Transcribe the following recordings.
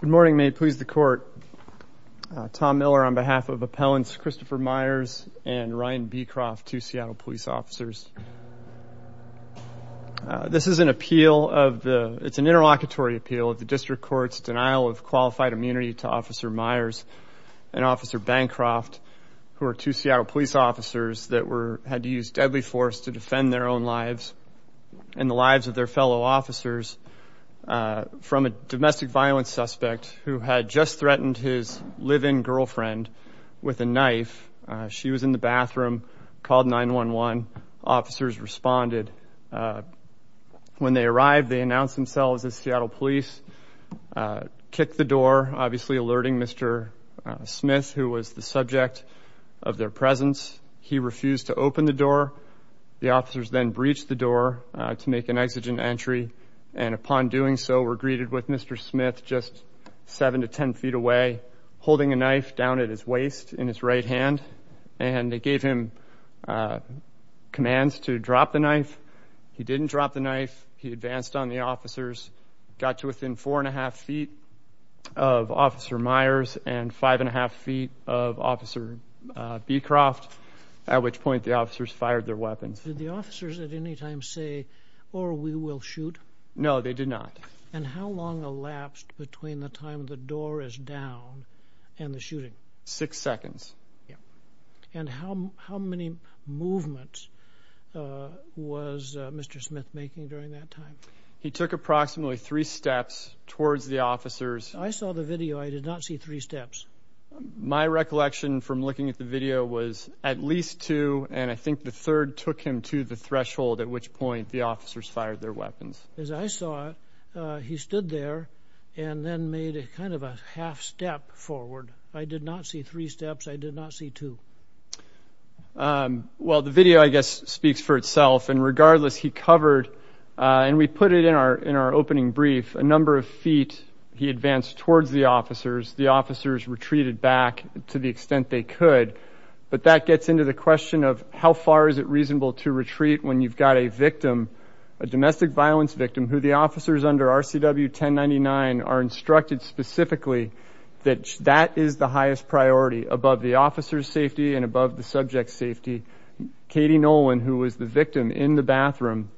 Good morning. May it please the court. Tom Miller on behalf of Appellants Christopher Myers and Ryan Beecroft, two Seattle police officers. This is an appeal of the, it's an interlocutory appeal of the district court's denial of qualified immunity to Officer Myers and Officer Bancroft, who are two Seattle police officers that were, had to use deadly force to defend their own lives and the lives of their fellow officers from a domestic violence suspect who had just threatened his live-in girlfriend with a knife. She was in the bathroom, called 911. Officers responded. When they arrived, they announced themselves as Seattle police, kicked the door, obviously alerting Mr. Smith, who was the subject of their presence. He refused to open the door. The officers then breached the door to make an exigent entry, and upon doing so were greeted with Mr. Smith just 7 to 10 feet away, holding a knife down at his waist in his right hand, and they gave him commands to drop the knife. He didn't drop the knife. He advanced on the officers, got to within 4 1⁄2 feet of Officer Myers and 5 1⁄2 feet of Officer Beecroft, at which point the officers fired their weapons. Did the officers at any time say, or we will shoot? No, they did not. And how long elapsed between the time the door is down and the shooting? Six seconds. And how many movements was Mr. Smith making during that time? He took approximately three steps towards the officers. I saw the video. I did not see three steps. My recollection from looking at the video was at least two, and I think the third took him to the threshold, at which point the officers fired their weapons. As I saw it, he stood there and then made kind of a half step forward. I did not see three steps. I did not see two. Well, the video, I guess, speaks for itself. And regardless, he covered, and we put it in our opening brief, a number of feet he advanced towards the officers. The officers retreated back to the extent they could. But that gets into the question of how far is it reasonable to retreat when you've got a victim, a domestic violence victim, who the officers under RCW 1099 are instructed specifically that that is the highest priority above the officer's safety and above the subject's safety. Katie Nolan, who was the victim in the bathroom.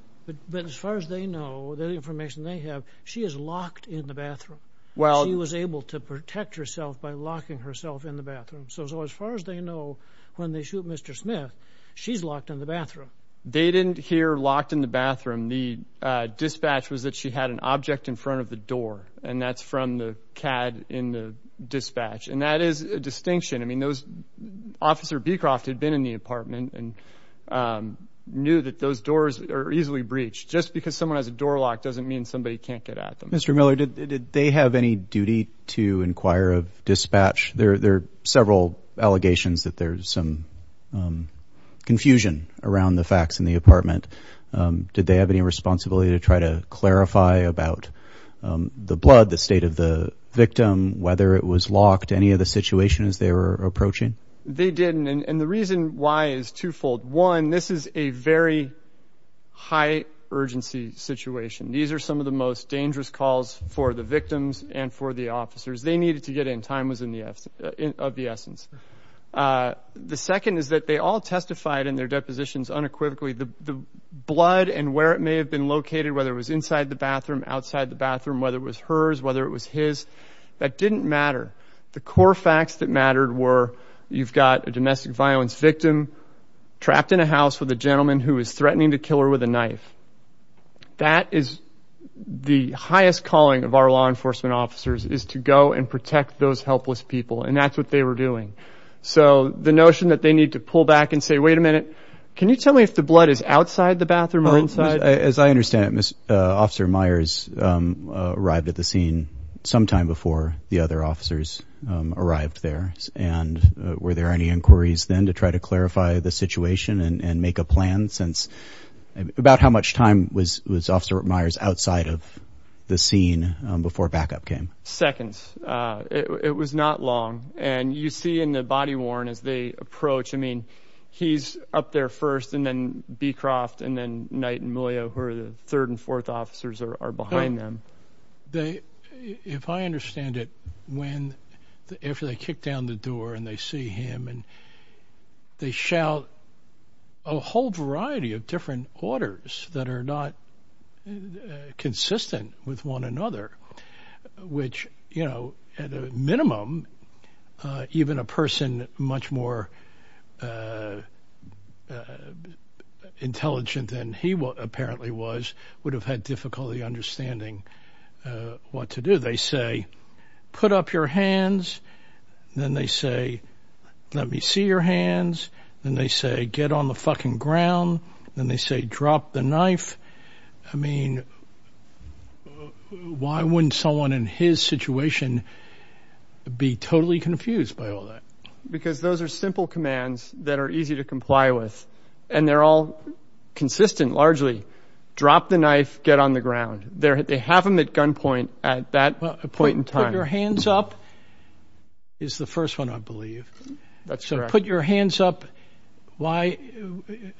But as far as they know, the information they have, she is locked in the bathroom. She was able to protect herself by locking herself in the bathroom. So as far as they know, when they shoot Mr. Smith, she's locked in the bathroom. They didn't hear locked in the bathroom. The dispatch was that she had an object in front of the door, and that's from the CAD in the dispatch. And that is a distinction. I mean, Officer Beecroft had been in the apartment and knew that those doors are easily breached. Just because someone has a door locked doesn't mean somebody can't get at them. Mr. Miller, did they have any duty to inquire of dispatch? There are several allegations that there's some confusion around the facts in the apartment. Did they have any responsibility to try to clarify about the blood, the state of the victim, whether it was locked, any of the situations they were approaching? They didn't. And the reason why is twofold. One, this is a very high-urgency situation. These are some of the most dangerous calls for the victims and for the officers. They needed to get in. Time was of the essence. The second is that they all testified in their depositions unequivocally. The blood and where it may have been located, whether it was inside the bathroom, outside the bathroom, whether it was hers, whether it was his, that didn't matter. The core facts that mattered were you've got a domestic violence victim trapped in a house with a gentleman who is threatening to kill her with a knife. That is the highest calling of our law enforcement officers is to go and protect those helpless people, and that's what they were doing. So the notion that they need to pull back and say, wait a minute, can you tell me if the blood is outside the bathroom or inside? As I understand it, Officer Myers arrived at the scene sometime before the other officers arrived there. And were there any inquiries then to try to clarify the situation and make a plan about how much time was Officer Myers outside of the scene before backup came? Seconds. It was not long. And you see in the body worn as they approach. I mean, he's up there first and then Beecroft and then Knight and Moyo, who are the third and fourth officers, are behind them. If I understand it, after they kick down the door and they see him, they shout a whole variety of different orders that are not consistent with one another, which, you know, at a minimum, even a person much more intelligent than he apparently was would have had difficulty understanding what to do. They say, put up your hands. Then they say, let me see your hands. Then they say, get on the fucking ground. Then they say, drop the knife. I mean, why wouldn't someone in his situation be totally confused by all that? Because those are simple commands that are easy to comply with. And they're all consistent, largely. Drop the knife, get on the ground. They have them at gunpoint at that point in time. Put your hands up is the first one, I believe. That's correct. Put your hands up, and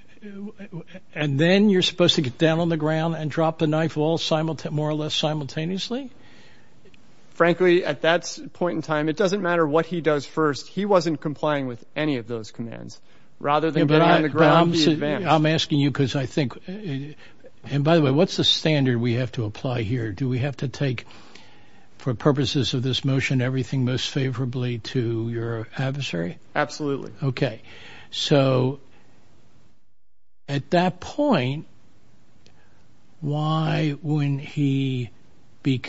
then you're supposed to get down on the ground and drop the knife more or less simultaneously? Frankly, at that point in time, it doesn't matter what he does first. He wasn't complying with any of those commands. Rather than get on the ground, he advanced. I'm asking you because I think, and by the way, what's the standard we have to apply here? Do we have to take, for purposes of this motion, everything most favorably to your adversary? Absolutely. So at that point, why, when he be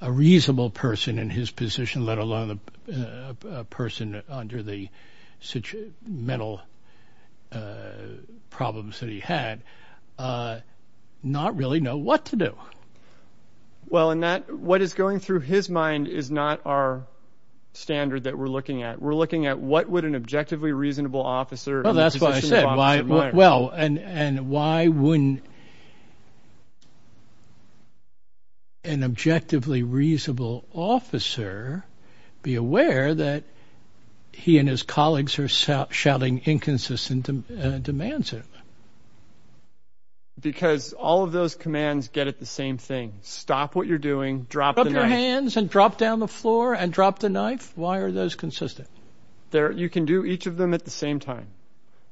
a reasonable person in his position, let alone a person under the mental problems that he had, not really know what to do? Well, what is going through his mind is not our standard that we're looking at. We're looking at what would an objectively reasonable officer in a position of opposite mind? Well, and why wouldn't an objectively reasonable officer be aware that he and his colleagues are shouting inconsistent demands at him? Because all of those commands get at the same thing. Stop what you're doing, drop the knife. Show your hands and drop down the floor and drop the knife. Why are those consistent? You can do each of them at the same time.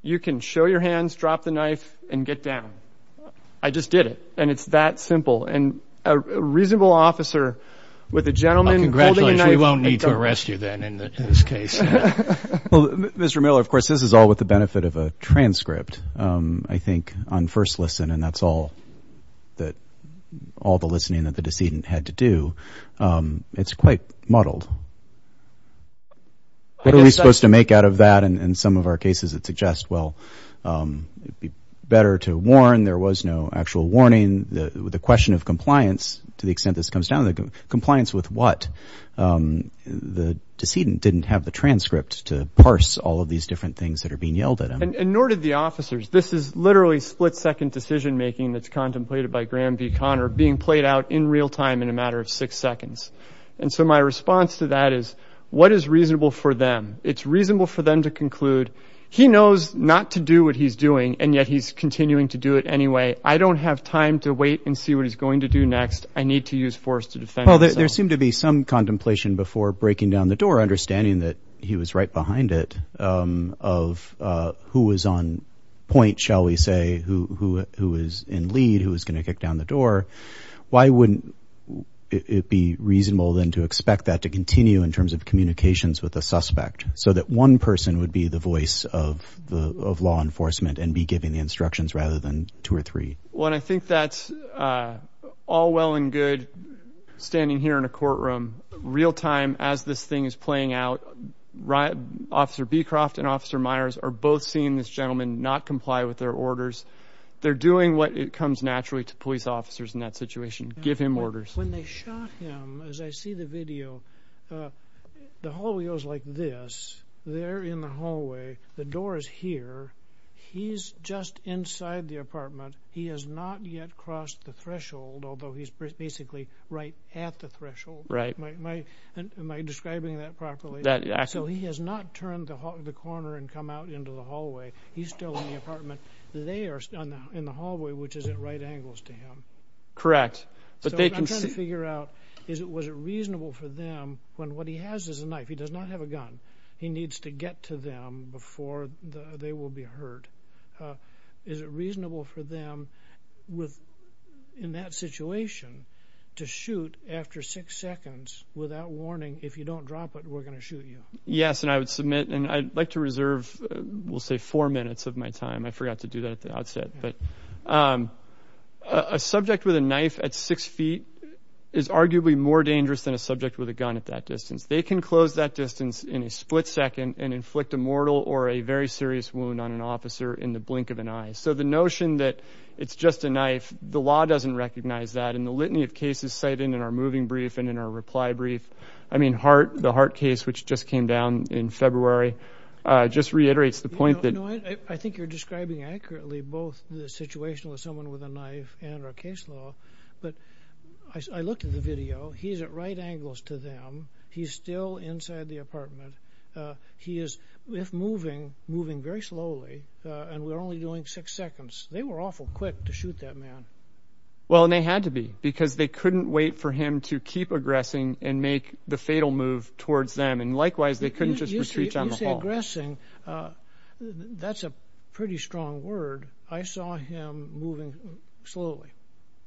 You can show your hands, drop the knife, and get down. I just did it, and it's that simple. And a reasonable officer with a gentleman holding a knife... We won't need to arrest you then in this case. Well, Mr. Miller, of course, this is all with the benefit of a transcript, I think, on first listen, and that's all the listening that the decedent had to do. It's quite muddled. What are we supposed to make out of that? In some of our cases, it suggests, well, it'd be better to warn. There was no actual warning. The question of compliance, to the extent this comes down to, compliance with what? The decedent didn't have the transcript to parse all of these different things that are being yelled at him. And nor did the officers. This is literally split-second decision-making that's contemplated by Graham v. Conner, being played out in real time in a matter of six seconds. And so my response to that is, what is reasonable for them? It's reasonable for them to conclude, he knows not to do what he's doing, and yet he's continuing to do it anyway. I don't have time to wait and see what he's going to do next. I need to use force to defend myself. Well, there seemed to be some contemplation before breaking down the door, your understanding that he was right behind it, of who was on point, shall we say, who was in lead, who was going to kick down the door. Why wouldn't it be reasonable, then, to expect that to continue in terms of communications with the suspect, so that one person would be the voice of law enforcement and be giving the instructions rather than two or three? Well, I think that's all well and good, standing here in a courtroom, real time, as this thing is playing out, Officer Beecroft and Officer Myers are both seeing this gentleman not comply with their orders. They're doing what comes naturally to police officers in that situation, give him orders. When they shot him, as I see the video, the hallway goes like this, they're in the hallway, the door is here, he's just inside the apartment, he has not yet crossed the threshold, although he's basically right at the threshold. Am I describing that properly? So he has not turned the corner and come out into the hallway. He's still in the apartment. They are in the hallway, which is at right angles to him. Correct. I'm trying to figure out, was it reasonable for them, when what he has is a knife, he does not have a gun, he needs to get to them before they will be hurt. Is it reasonable for them, in that situation, to shoot after six seconds without warning, if you don't drop it, we're going to shoot you? Yes, and I would submit, and I'd like to reserve, we'll say four minutes of my time. I forgot to do that at the outset. A subject with a knife at six feet is arguably more dangerous than a subject with a gun at that distance. They can close that distance in a split second and inflict a mortal or a very serious wound on an officer in the blink of an eye. So the notion that it's just a knife, the law doesn't recognize that, and the litany of cases cited in our moving brief and in our reply brief, I mean the Hart case, which just came down in February, just reiterates the point that... I think you're describing accurately both the situation with someone with a knife and our case law, but I looked at the video. He's at right angles to them. He's still inside the apartment. He is, if moving, moving very slowly, and we're only doing six seconds. They were awful quick to shoot that man. Well, and they had to be, because they couldn't wait for him to keep aggressing and make the fatal move towards them, and likewise, they couldn't just retreat down the hall. You say aggressing. That's a pretty strong word. I saw him moving slowly.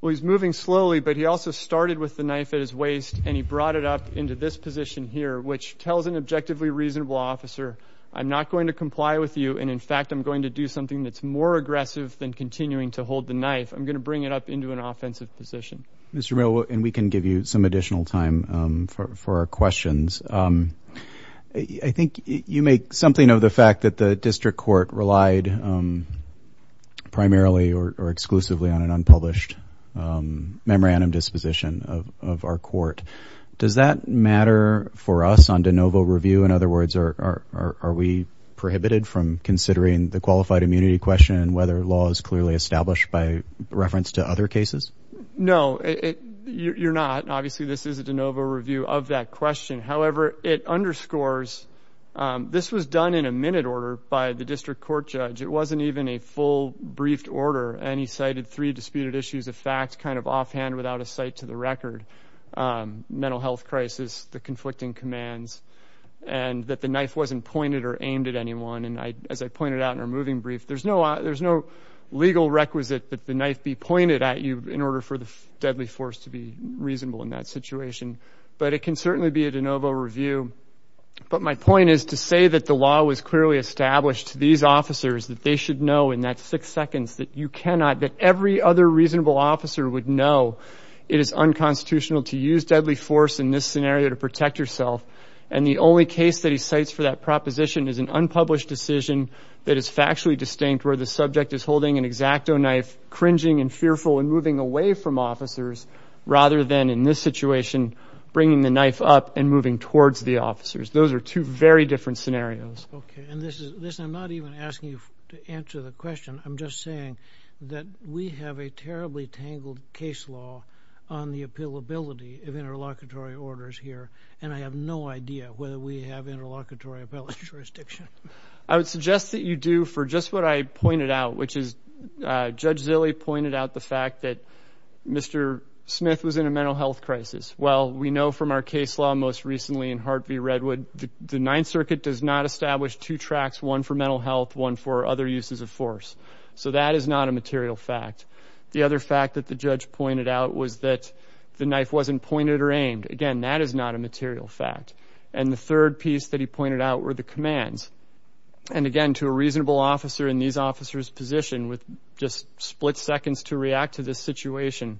Well, he's moving slowly, but he also started with the knife at his waist, and he brought it up into this position here, which tells an objectively reasonable officer, I'm not going to comply with you, and, in fact, I'm going to do something that's more aggressive than continuing to hold the knife. I'm going to bring it up into an offensive position. Mr. Mill, and we can give you some additional time for our questions. I think you make something of the fact that the district court relied primarily or exclusively on an unpublished memorandum disposition of our court. Does that matter for us on de novo review? In other words, are we prohibited from considering the qualified immunity question and whether law is clearly established by reference to other cases? No, you're not. Obviously, this is a de novo review of that question. However, it underscores this was done in a minute order by the district court judge. It wasn't even a full briefed order. And he cited three disputed issues of fact kind of offhand without a cite to the record. Mental health crisis, the conflicting commands, and that the knife wasn't pointed or aimed at anyone. And as I pointed out in our moving brief, there's no legal requisite that the knife be pointed at you in order for the deadly force to be reasonable in that situation. But it can certainly be a de novo review. But my point is to say that the law was clearly established. These officers, that they should know in that six seconds that you cannot, that every other reasonable officer would know it is unconstitutional to use deadly force in this scenario to protect yourself. And the only case that he cites for that proposition is an unpublished decision that is factually distinct where the subject is holding an exacto knife, cringing and fearful and moving away from officers rather than in this situation bringing the knife up and moving towards the officers. Those are two very different scenarios. Okay, and listen, I'm not even asking you to answer the question. I'm just saying that we have a terribly tangled case law on the appealability of interlocutory orders here, and I have no idea whether we have interlocutory appellate jurisdiction. I would suggest that you do for just what I pointed out, which is Judge Zille pointed out the fact that Mr. Smith was in a mental health crisis. Well, we know from our case law most recently in Hart v. Redwood that the Ninth Circuit does not establish two tracks, one for mental health, one for other uses of force. So that is not a material fact. The other fact that the judge pointed out was that the knife wasn't pointed or aimed. Again, that is not a material fact. And the third piece that he pointed out were the commands. And again, to a reasonable officer in these officers' position with just split seconds to react to this situation,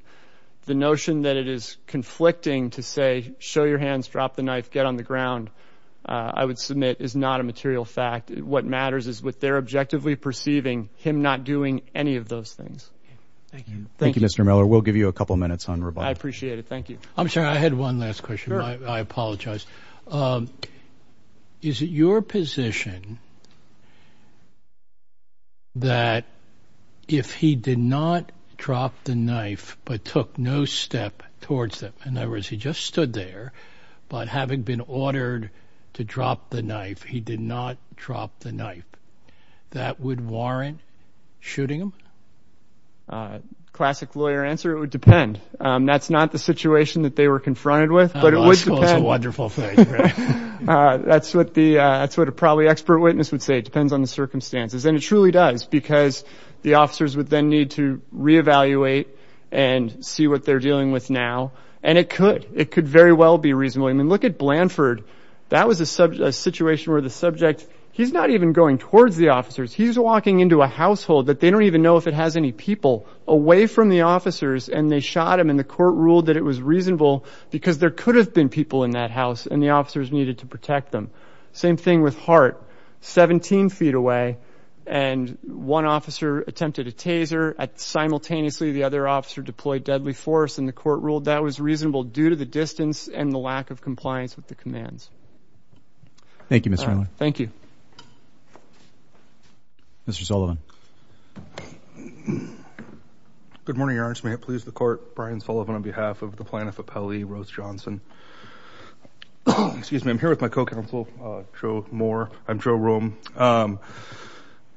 the notion that it is conflicting to say, show your hands, drop the knife, get on the ground, I would submit, is not a material fact. What matters is what they're objectively perceiving, him not doing any of those things. Thank you. Thank you, Mr. Miller. We'll give you a couple minutes on rebuttal. I appreciate it. Thank you. I'm sorry, I had one last question. I apologize. Is it your position that if he did not drop the knife but took no step towards them, in other words, he just stood there, but having been ordered to drop the knife, he did not drop the knife, that would warrant shooting him? Classic lawyer answer, it would depend. That's not the situation that they were confronted with, but it would depend. That's a wonderful thing. That's what a probably expert witness would say. It depends on the circumstances. And it truly does because the officers would then need to reevaluate and see what they're dealing with now, and it could. It could very well be reasonable. I mean, look at Blanford. That was a situation where the subject, he's not even going towards the officers. He's walking into a household that they don't even know if it has any people away from the officers, and they shot him, and the court ruled that it was reasonable because there could have been people in that house, and the officers needed to protect them. Same thing with Hart, 17 feet away, and one officer attempted a taser simultaneously. Simultaneously, the other officer deployed deadly force, and the court ruled that was reasonable due to the distance and the lack of compliance with the commands. Thank you, Mr. Hanley. Thank you. Mr. Sullivan. Good morning, Your Honor. May it please the Court, Brian Sullivan on behalf of the plaintiff, Apelli Rose Johnson. I'm here with my co-counsel, Joe Moore. I'm Joe Rome.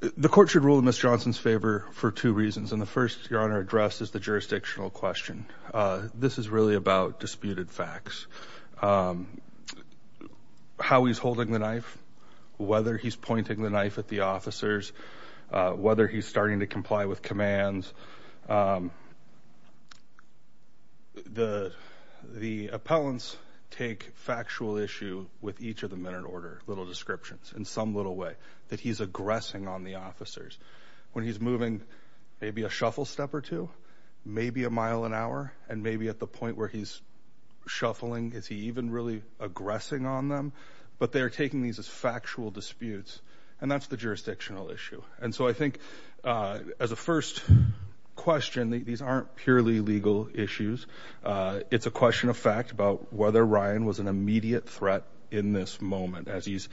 The court should rule in Ms. Johnson's favor for two reasons, and the first, Your Honor, addressed is the jurisdictional question. This is really about disputed facts. How he's holding the knife, whether he's pointing the knife at the officers, whether he's starting to comply with commands. The appellants take factual issue with each of them in an order, little descriptions in some little way that he's aggressing on the officers. When he's moving maybe a shuffle step or two, maybe a mile an hour, and maybe at the point where he's shuffling, is he even really aggressing on them? But they're taking these as factual disputes, and that's the jurisdictional issue. And so I think as a first question, these aren't purely legal issues. It's a question of fact about whether Ryan was an immediate threat in this moment. As he's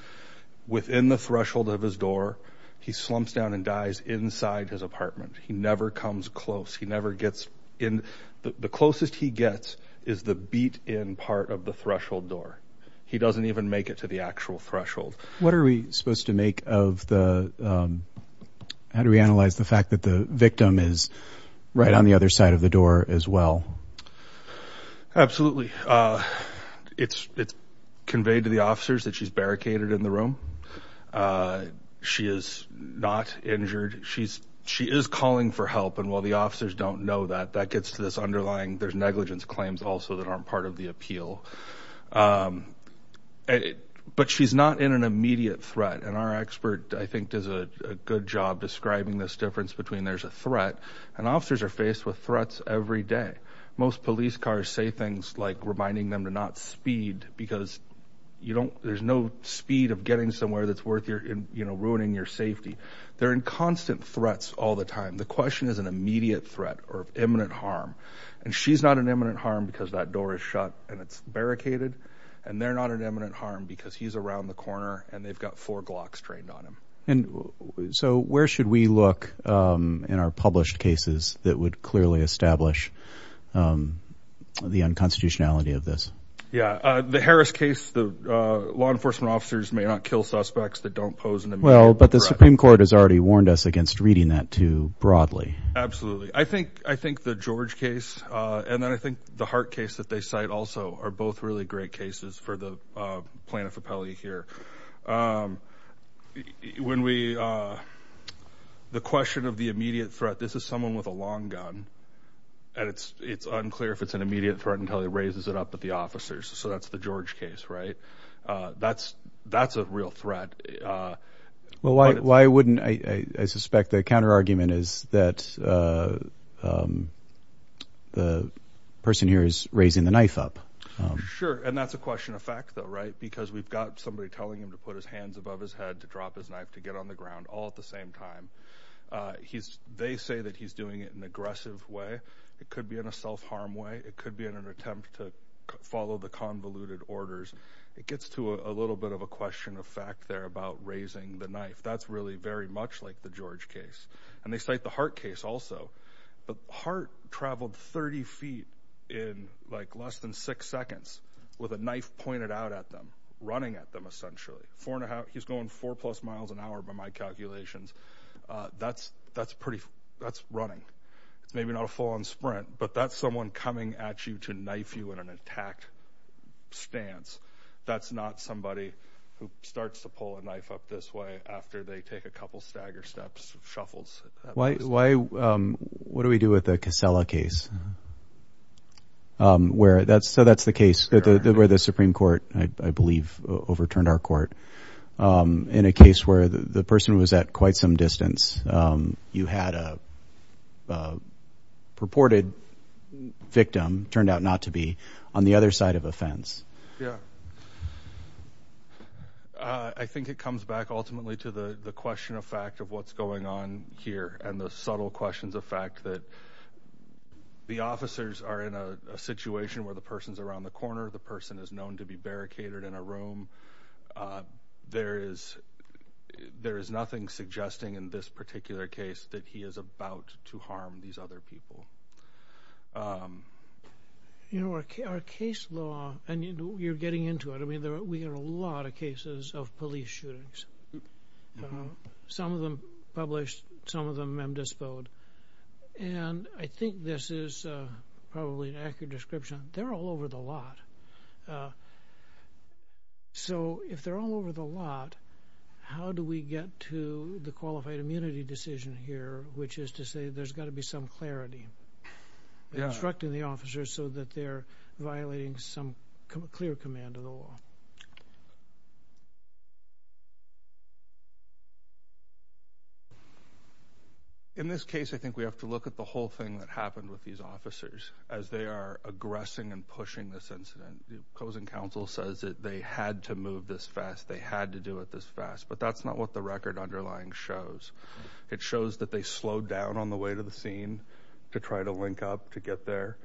within the threshold of his door, he slumps down and dies inside his apartment. He never comes close. He never gets in. The closest he gets is the beat-in part of the threshold door. He doesn't even make it to the actual threshold. What are we supposed to make of the – how do we analyze the fact that the victim is right on the other side of the door as well? Absolutely. It's conveyed to the officers that she's barricaded in the room. She is not injured. She is calling for help, and while the officers don't know that, that gets to this underlying – there's negligence claims also that aren't part of the appeal. But she's not in an immediate threat, and our expert I think does a good job describing this difference between there's a threat and officers are faced with threats every day. Most police cars say things like reminding them to not speed because there's no speed of getting somewhere that's worth ruining your safety. They're in constant threats all the time. The question is an immediate threat or imminent harm. And she's not in imminent harm because that door is shut and it's barricaded, and they're not in imminent harm because he's around the corner and they've got four Glocks trained on him. And so where should we look in our published cases that would clearly establish the unconstitutionality of this? Yeah. The Harris case, the law enforcement officers may not kill suspects that don't pose an immediate threat. Well, but the Supreme Court has already warned us against reading that too broadly. I think the George case and then I think the Hart case that they cite also are both really great cases for the plaintiff appellee here. When we—the question of the immediate threat, this is someone with a long gun, and it's unclear if it's an immediate threat until he raises it up at the officers. So that's the George case, right? That's a real threat. Well, why wouldn't—I suspect the counterargument is that the person here is raising the knife up. Sure, and that's a question of fact though, right? Because we've got somebody telling him to put his hands above his head, to drop his knife, to get on the ground all at the same time. They say that he's doing it in an aggressive way. It could be in a self-harm way. It could be in an attempt to follow the convoluted orders. It gets to a little bit of a question of fact there about raising the knife. That's really very much like the George case. And they cite the Hart case also. Hart traveled 30 feet in, like, less than six seconds with a knife pointed out at them, running at them essentially. He's going four-plus miles an hour by my calculations. That's pretty—that's running. Maybe not a full-on sprint, but that's someone coming at you to knife you in an attack stance. That's not somebody who starts to pull a knife up this way after they take a couple stagger steps, shuffles. What do we do with the Casella case? So that's the case where the Supreme Court, I believe, overturned our court, in a case where the person was at quite some distance. You had a purported victim, turned out not to be, on the other side of a fence. Yeah. I think it comes back ultimately to the question of fact of what's going on here and the subtle questions of fact that the officers are in a situation where the person's around the corner, the person is known to be barricaded in a room. There is nothing suggesting in this particular case that he is about to harm these other people. You know, our case law—and you're getting into it. I mean, we have a lot of cases of police shootings. Some of them published, some of them indisposed. And I think this is probably an accurate description. They're all over the lot. So if they're all over the lot, how do we get to the qualified immunity decision here, which is to say there's got to be some clarity. They're instructing the officers so that they're violating some clear command of the law. In this case, I think we have to look at the whole thing that happened with these officers as they are aggressing and pushing this incident. The opposing counsel says that they had to move this fast. They had to do it this fast. But that's not what the record underlying shows. It shows that they slowed down on the way to the scene to try to link up to get there.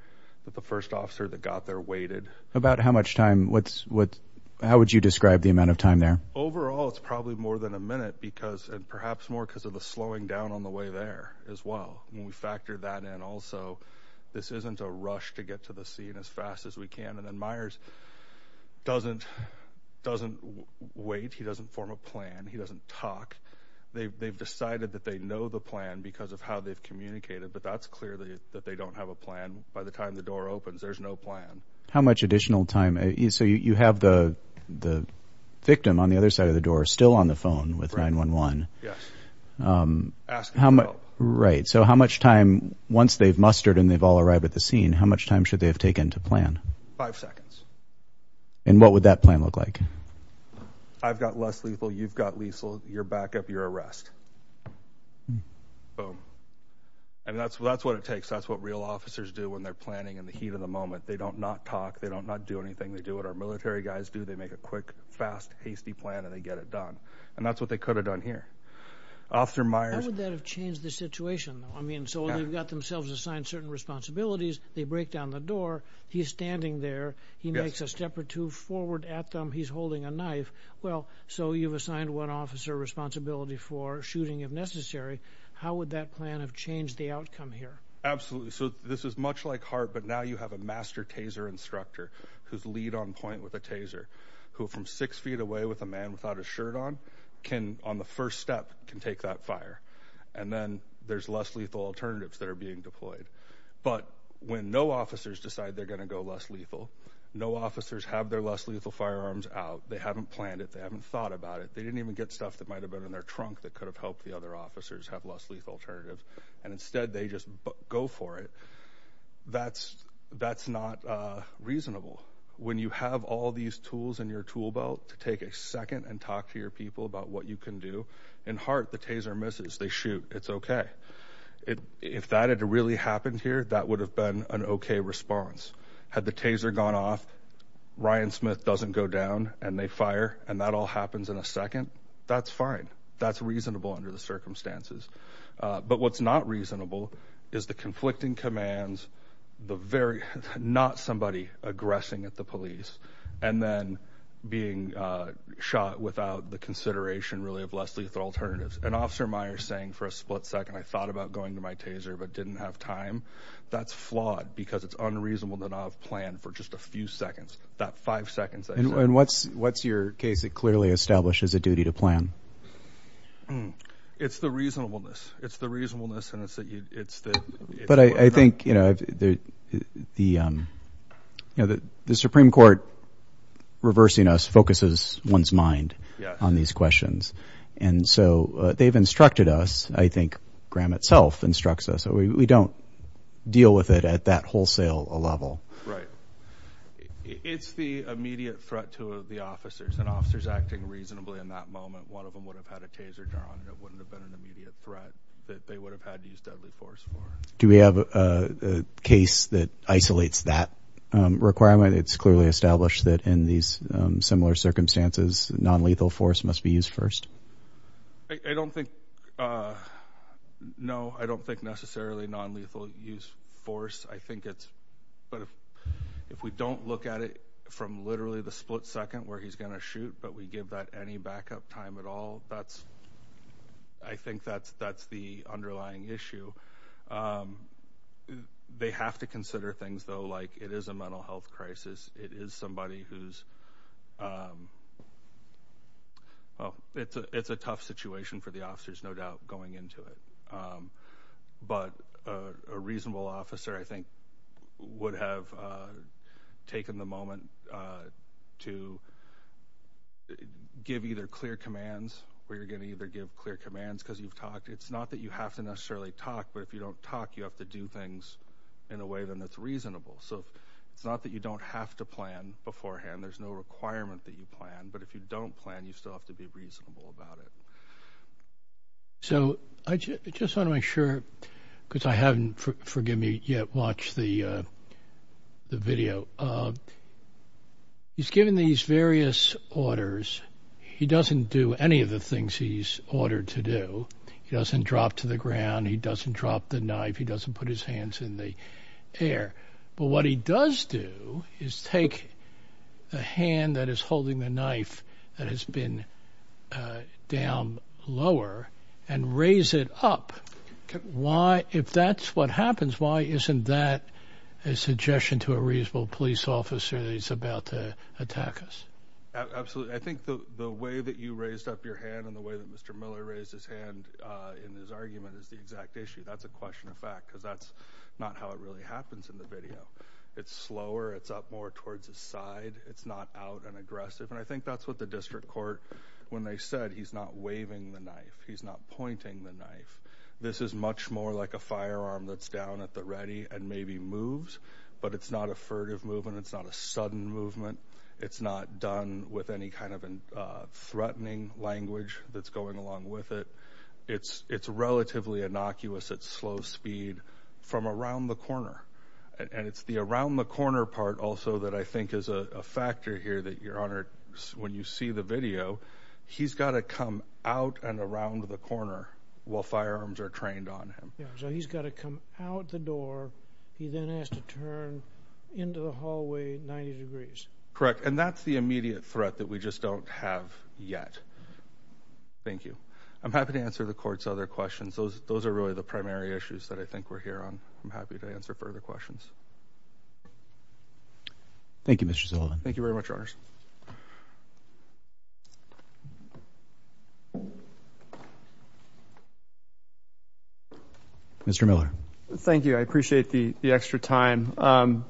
But the first officer that got there waited. About how much time? How would you describe the amount of time there? Overall, it's probably more than a minute, and perhaps more because of the slowing down on the way there as well. When we factor that in also, this isn't a rush to get to the scene as fast as we can. And then Myers doesn't wait. He doesn't form a plan. He doesn't talk. They've decided that they know the plan because of how they've communicated, but that's clear that they don't have a plan. By the time the door opens, there's no plan. How much additional time? So you have the victim on the other side of the door still on the phone with 911. Yes. Asking about. Right. So how much time, once they've mustered and they've all arrived at the scene, how much time should they have taken to plan? Five seconds. And what would that plan look like? I've got less lethal. You've got lethal. You're back up. You're arrest. Boom. And that's what it takes. That's what real officers do when they're planning in the heat of the moment. They do not talk. They do not do anything. They do what our military guys do. They make a quick, fast, hasty plan, and they get it done. And that's what they could have done here. Officer Myers. How would that have changed the situation? I mean, so they've got themselves assigned certain responsibilities. They break down the door. He's standing there. He makes a step or two forward at them. He's holding a knife. Well, so you've assigned one officer responsibility for shooting, if necessary. How would that plan have changed the outcome here? Absolutely. So this is much like HART, but now you have a master taser instructor whose lead on point with a taser, who from six feet away with a man without a shirt on, can, on the first step, can take that fire. And then there's less lethal alternatives that are being deployed. But when no officers decide they're going to go less lethal, no officers have their less lethal firearms out, they haven't planned it, they haven't thought about it, they didn't even get stuff that might have been in their trunk that could have helped the other officers have less lethal alternatives, and instead they just go for it, that's not reasonable. When you have all these tools in your tool belt to take a second and talk to your people about what you can do, in HART the taser misses, they shoot, it's okay. If that had really happened here, that would have been an okay response. Had the taser gone off, Ryan Smith doesn't go down, and they fire, and that all happens in a second, that's fine. That's reasonable under the circumstances. But what's not reasonable is the conflicting commands, not somebody aggressing at the police, and then being shot without the consideration, really, of less lethal alternatives. An officer of mine is saying for a split second, I thought about going to my taser but didn't have time. That's flawed because it's unreasonable that I have planned for just a few seconds. That five seconds I said. And what's your case that clearly establishes a duty to plan? It's the reasonableness. It's the reasonableness and it's the... But I think, you know, the Supreme Court reversing us focuses one's mind on these questions. And so they've instructed us, I think Graham itself instructs us, so we don't deal with it at that wholesale level. It's the immediate threat to the officers, and officers acting reasonably in that moment, one of them would have had a taser drawn and it wouldn't have been an immediate threat that they would have had to use deadly force for. Do we have a case that isolates that requirement? It's clearly established that in these similar circumstances, nonlethal force must be used first. I don't think... No, I don't think necessarily nonlethal use force. I think it's... If we don't look at it from literally the split second where he's going to shoot but we give that any backup time at all, that's... I think that's the underlying issue. They have to consider things, though, like it is a mental health crisis. It is somebody who's... Well, it's a tough situation for the officers, no doubt, going into it. But a reasonable officer, I think, would have taken the moment to give either clear commands, or you're going to either give clear commands because you've talked. It's not that you have to necessarily talk, but if you don't talk, you have to do things in a way that's reasonable. So it's not that you don't have to plan beforehand. There's no requirement that you plan, but if you don't plan, you still have to be reasonable about it. So I just want to make sure, because I haven't, forgive me, yet watched the video. He's given these various orders. He doesn't do any of the things he's ordered to do. He doesn't drop to the ground. He doesn't drop the knife. He doesn't put his hands in the air. But what he does do is take the hand that is holding the knife that has been down lower and raise it up. If that's what happens, why isn't that a suggestion to a reasonable police officer that he's about to attack us? Absolutely. I think the way that you raised up your hand and the way that Mr. Miller raised his hand in his argument is the exact issue. That's a question of fact, because that's not how it really happens in the video. It's slower. It's up more towards the side. It's not out and aggressive, and I think that's what the district court, when they said he's not waving the knife, he's not pointing the knife. This is much more like a firearm that's down at the ready and maybe moves, but it's not a furtive movement. It's not a sudden movement. It's not done with any kind of threatening language that's going along with it. It's relatively innocuous at slow speed from around the corner, and it's the around the corner part also that I think is a factor here that, Your Honor, when you see the video, he's got to come out and around the corner while firearms are trained on him. Yeah, so he's got to come out the door. He then has to turn into the hallway 90 degrees. Correct, and that's the immediate threat that we just don't have yet. Thank you. I'm happy to answer the court's other questions. Those are really the primary issues that I think we're here on. I'm happy to answer further questions. Thank you, Mr. Sullivan. Thank you very much, Your Honors. Mr. Miller. Thank you. I appreciate the extra time.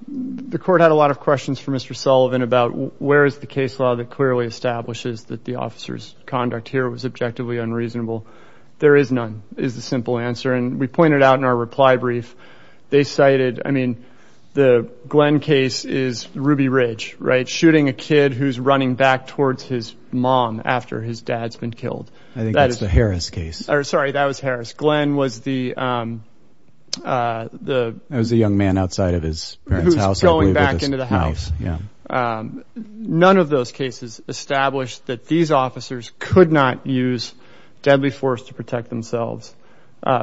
The court had a lot of questions for Mr. Sullivan about where is the case law that clearly establishes that the officer's conduct here was objectively unreasonable. There is none, is the simple answer, and we pointed out in our reply brief. They cited, I mean, the Glenn case is Ruby Ridge, right, shooting a kid who's running back towards his mom after his dad's been killed. I think that's the Harris case. Sorry, that was Harris. Glenn was the young man outside of his parents' house. Who's going back into the house, yeah. None of those cases establish that these officers could not use deadly force to protect themselves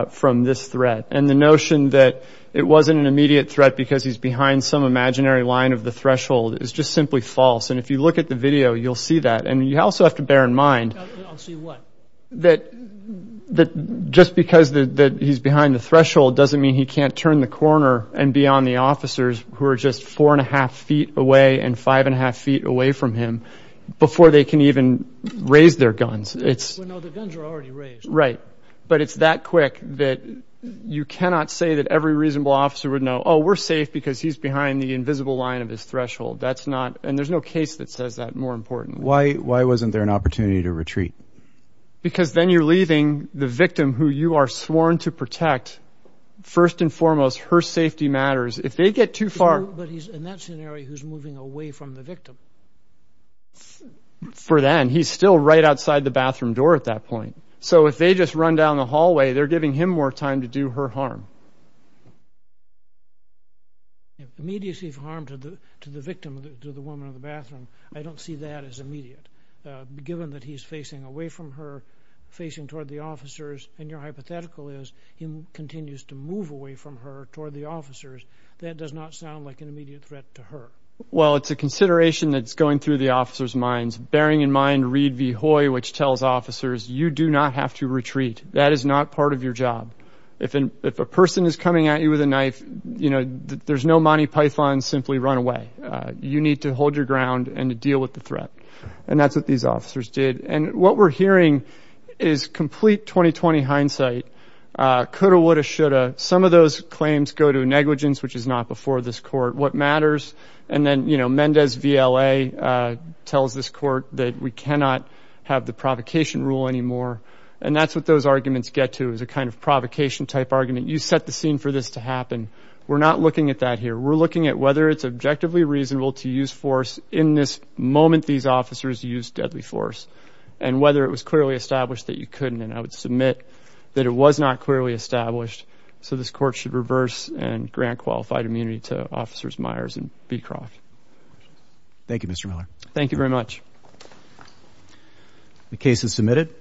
from this threat. And the notion that it wasn't an immediate threat because he's behind some imaginary line of the threshold is just simply false. And if you look at the video, you'll see that. And you also have to bear in mind that just because he's behind the threshold doesn't mean he can't turn the corner and be on the officers who are just four and a half feet away and five and a half feet away from him before they can even raise their guns. Well, no, the guns are already raised. Right, but it's that quick that you cannot say that every reasonable officer would know, oh, we're safe because he's behind the invisible line of this threshold. That's not, and there's no case that says that more importantly. Why wasn't there an opportunity to retreat? Because then you're leaving the victim who you are sworn to protect. First and foremost, her safety matters. If they get too far. But in that scenario, he's moving away from the victim. For then, he's still right outside the bathroom door at that point. So if they just run down the hallway, they're giving him more time to do her harm. Immediacy of harm to the victim, to the woman in the bathroom, I don't see that as immediate, given that he's facing away from her, facing toward the officers, and your hypothetical is he continues to move away from her toward the officers. That does not sound like an immediate threat to her. Well, it's a consideration that's going through the officers' minds, bearing in mind Reed v. Hoy, which tells officers you do not have to retreat. That is not part of your job. If a person is coming at you with a knife, there's no Monty Python, simply run away. You need to hold your ground and to deal with the threat. And that's what these officers did. And what we're hearing is complete 20-20 hindsight. Coulda, woulda, shoulda. Some of those claims go to negligence, which is not before this court. What matters? And then, you know, Mendez v. LA tells this court that we cannot have the provocation rule anymore. And that's what those arguments get to, is a kind of provocation-type argument. You set the scene for this to happen. We're not looking at that here. We're looking at whether it's objectively reasonable to use force in this moment these officers used deadly force and whether it was clearly established that you couldn't. And I would submit that it was not clearly established, so this court should reverse and grant qualified immunity to Officers Myers and Beecroft. Thank you, Mr. Miller. Thank you very much. The case is submitted.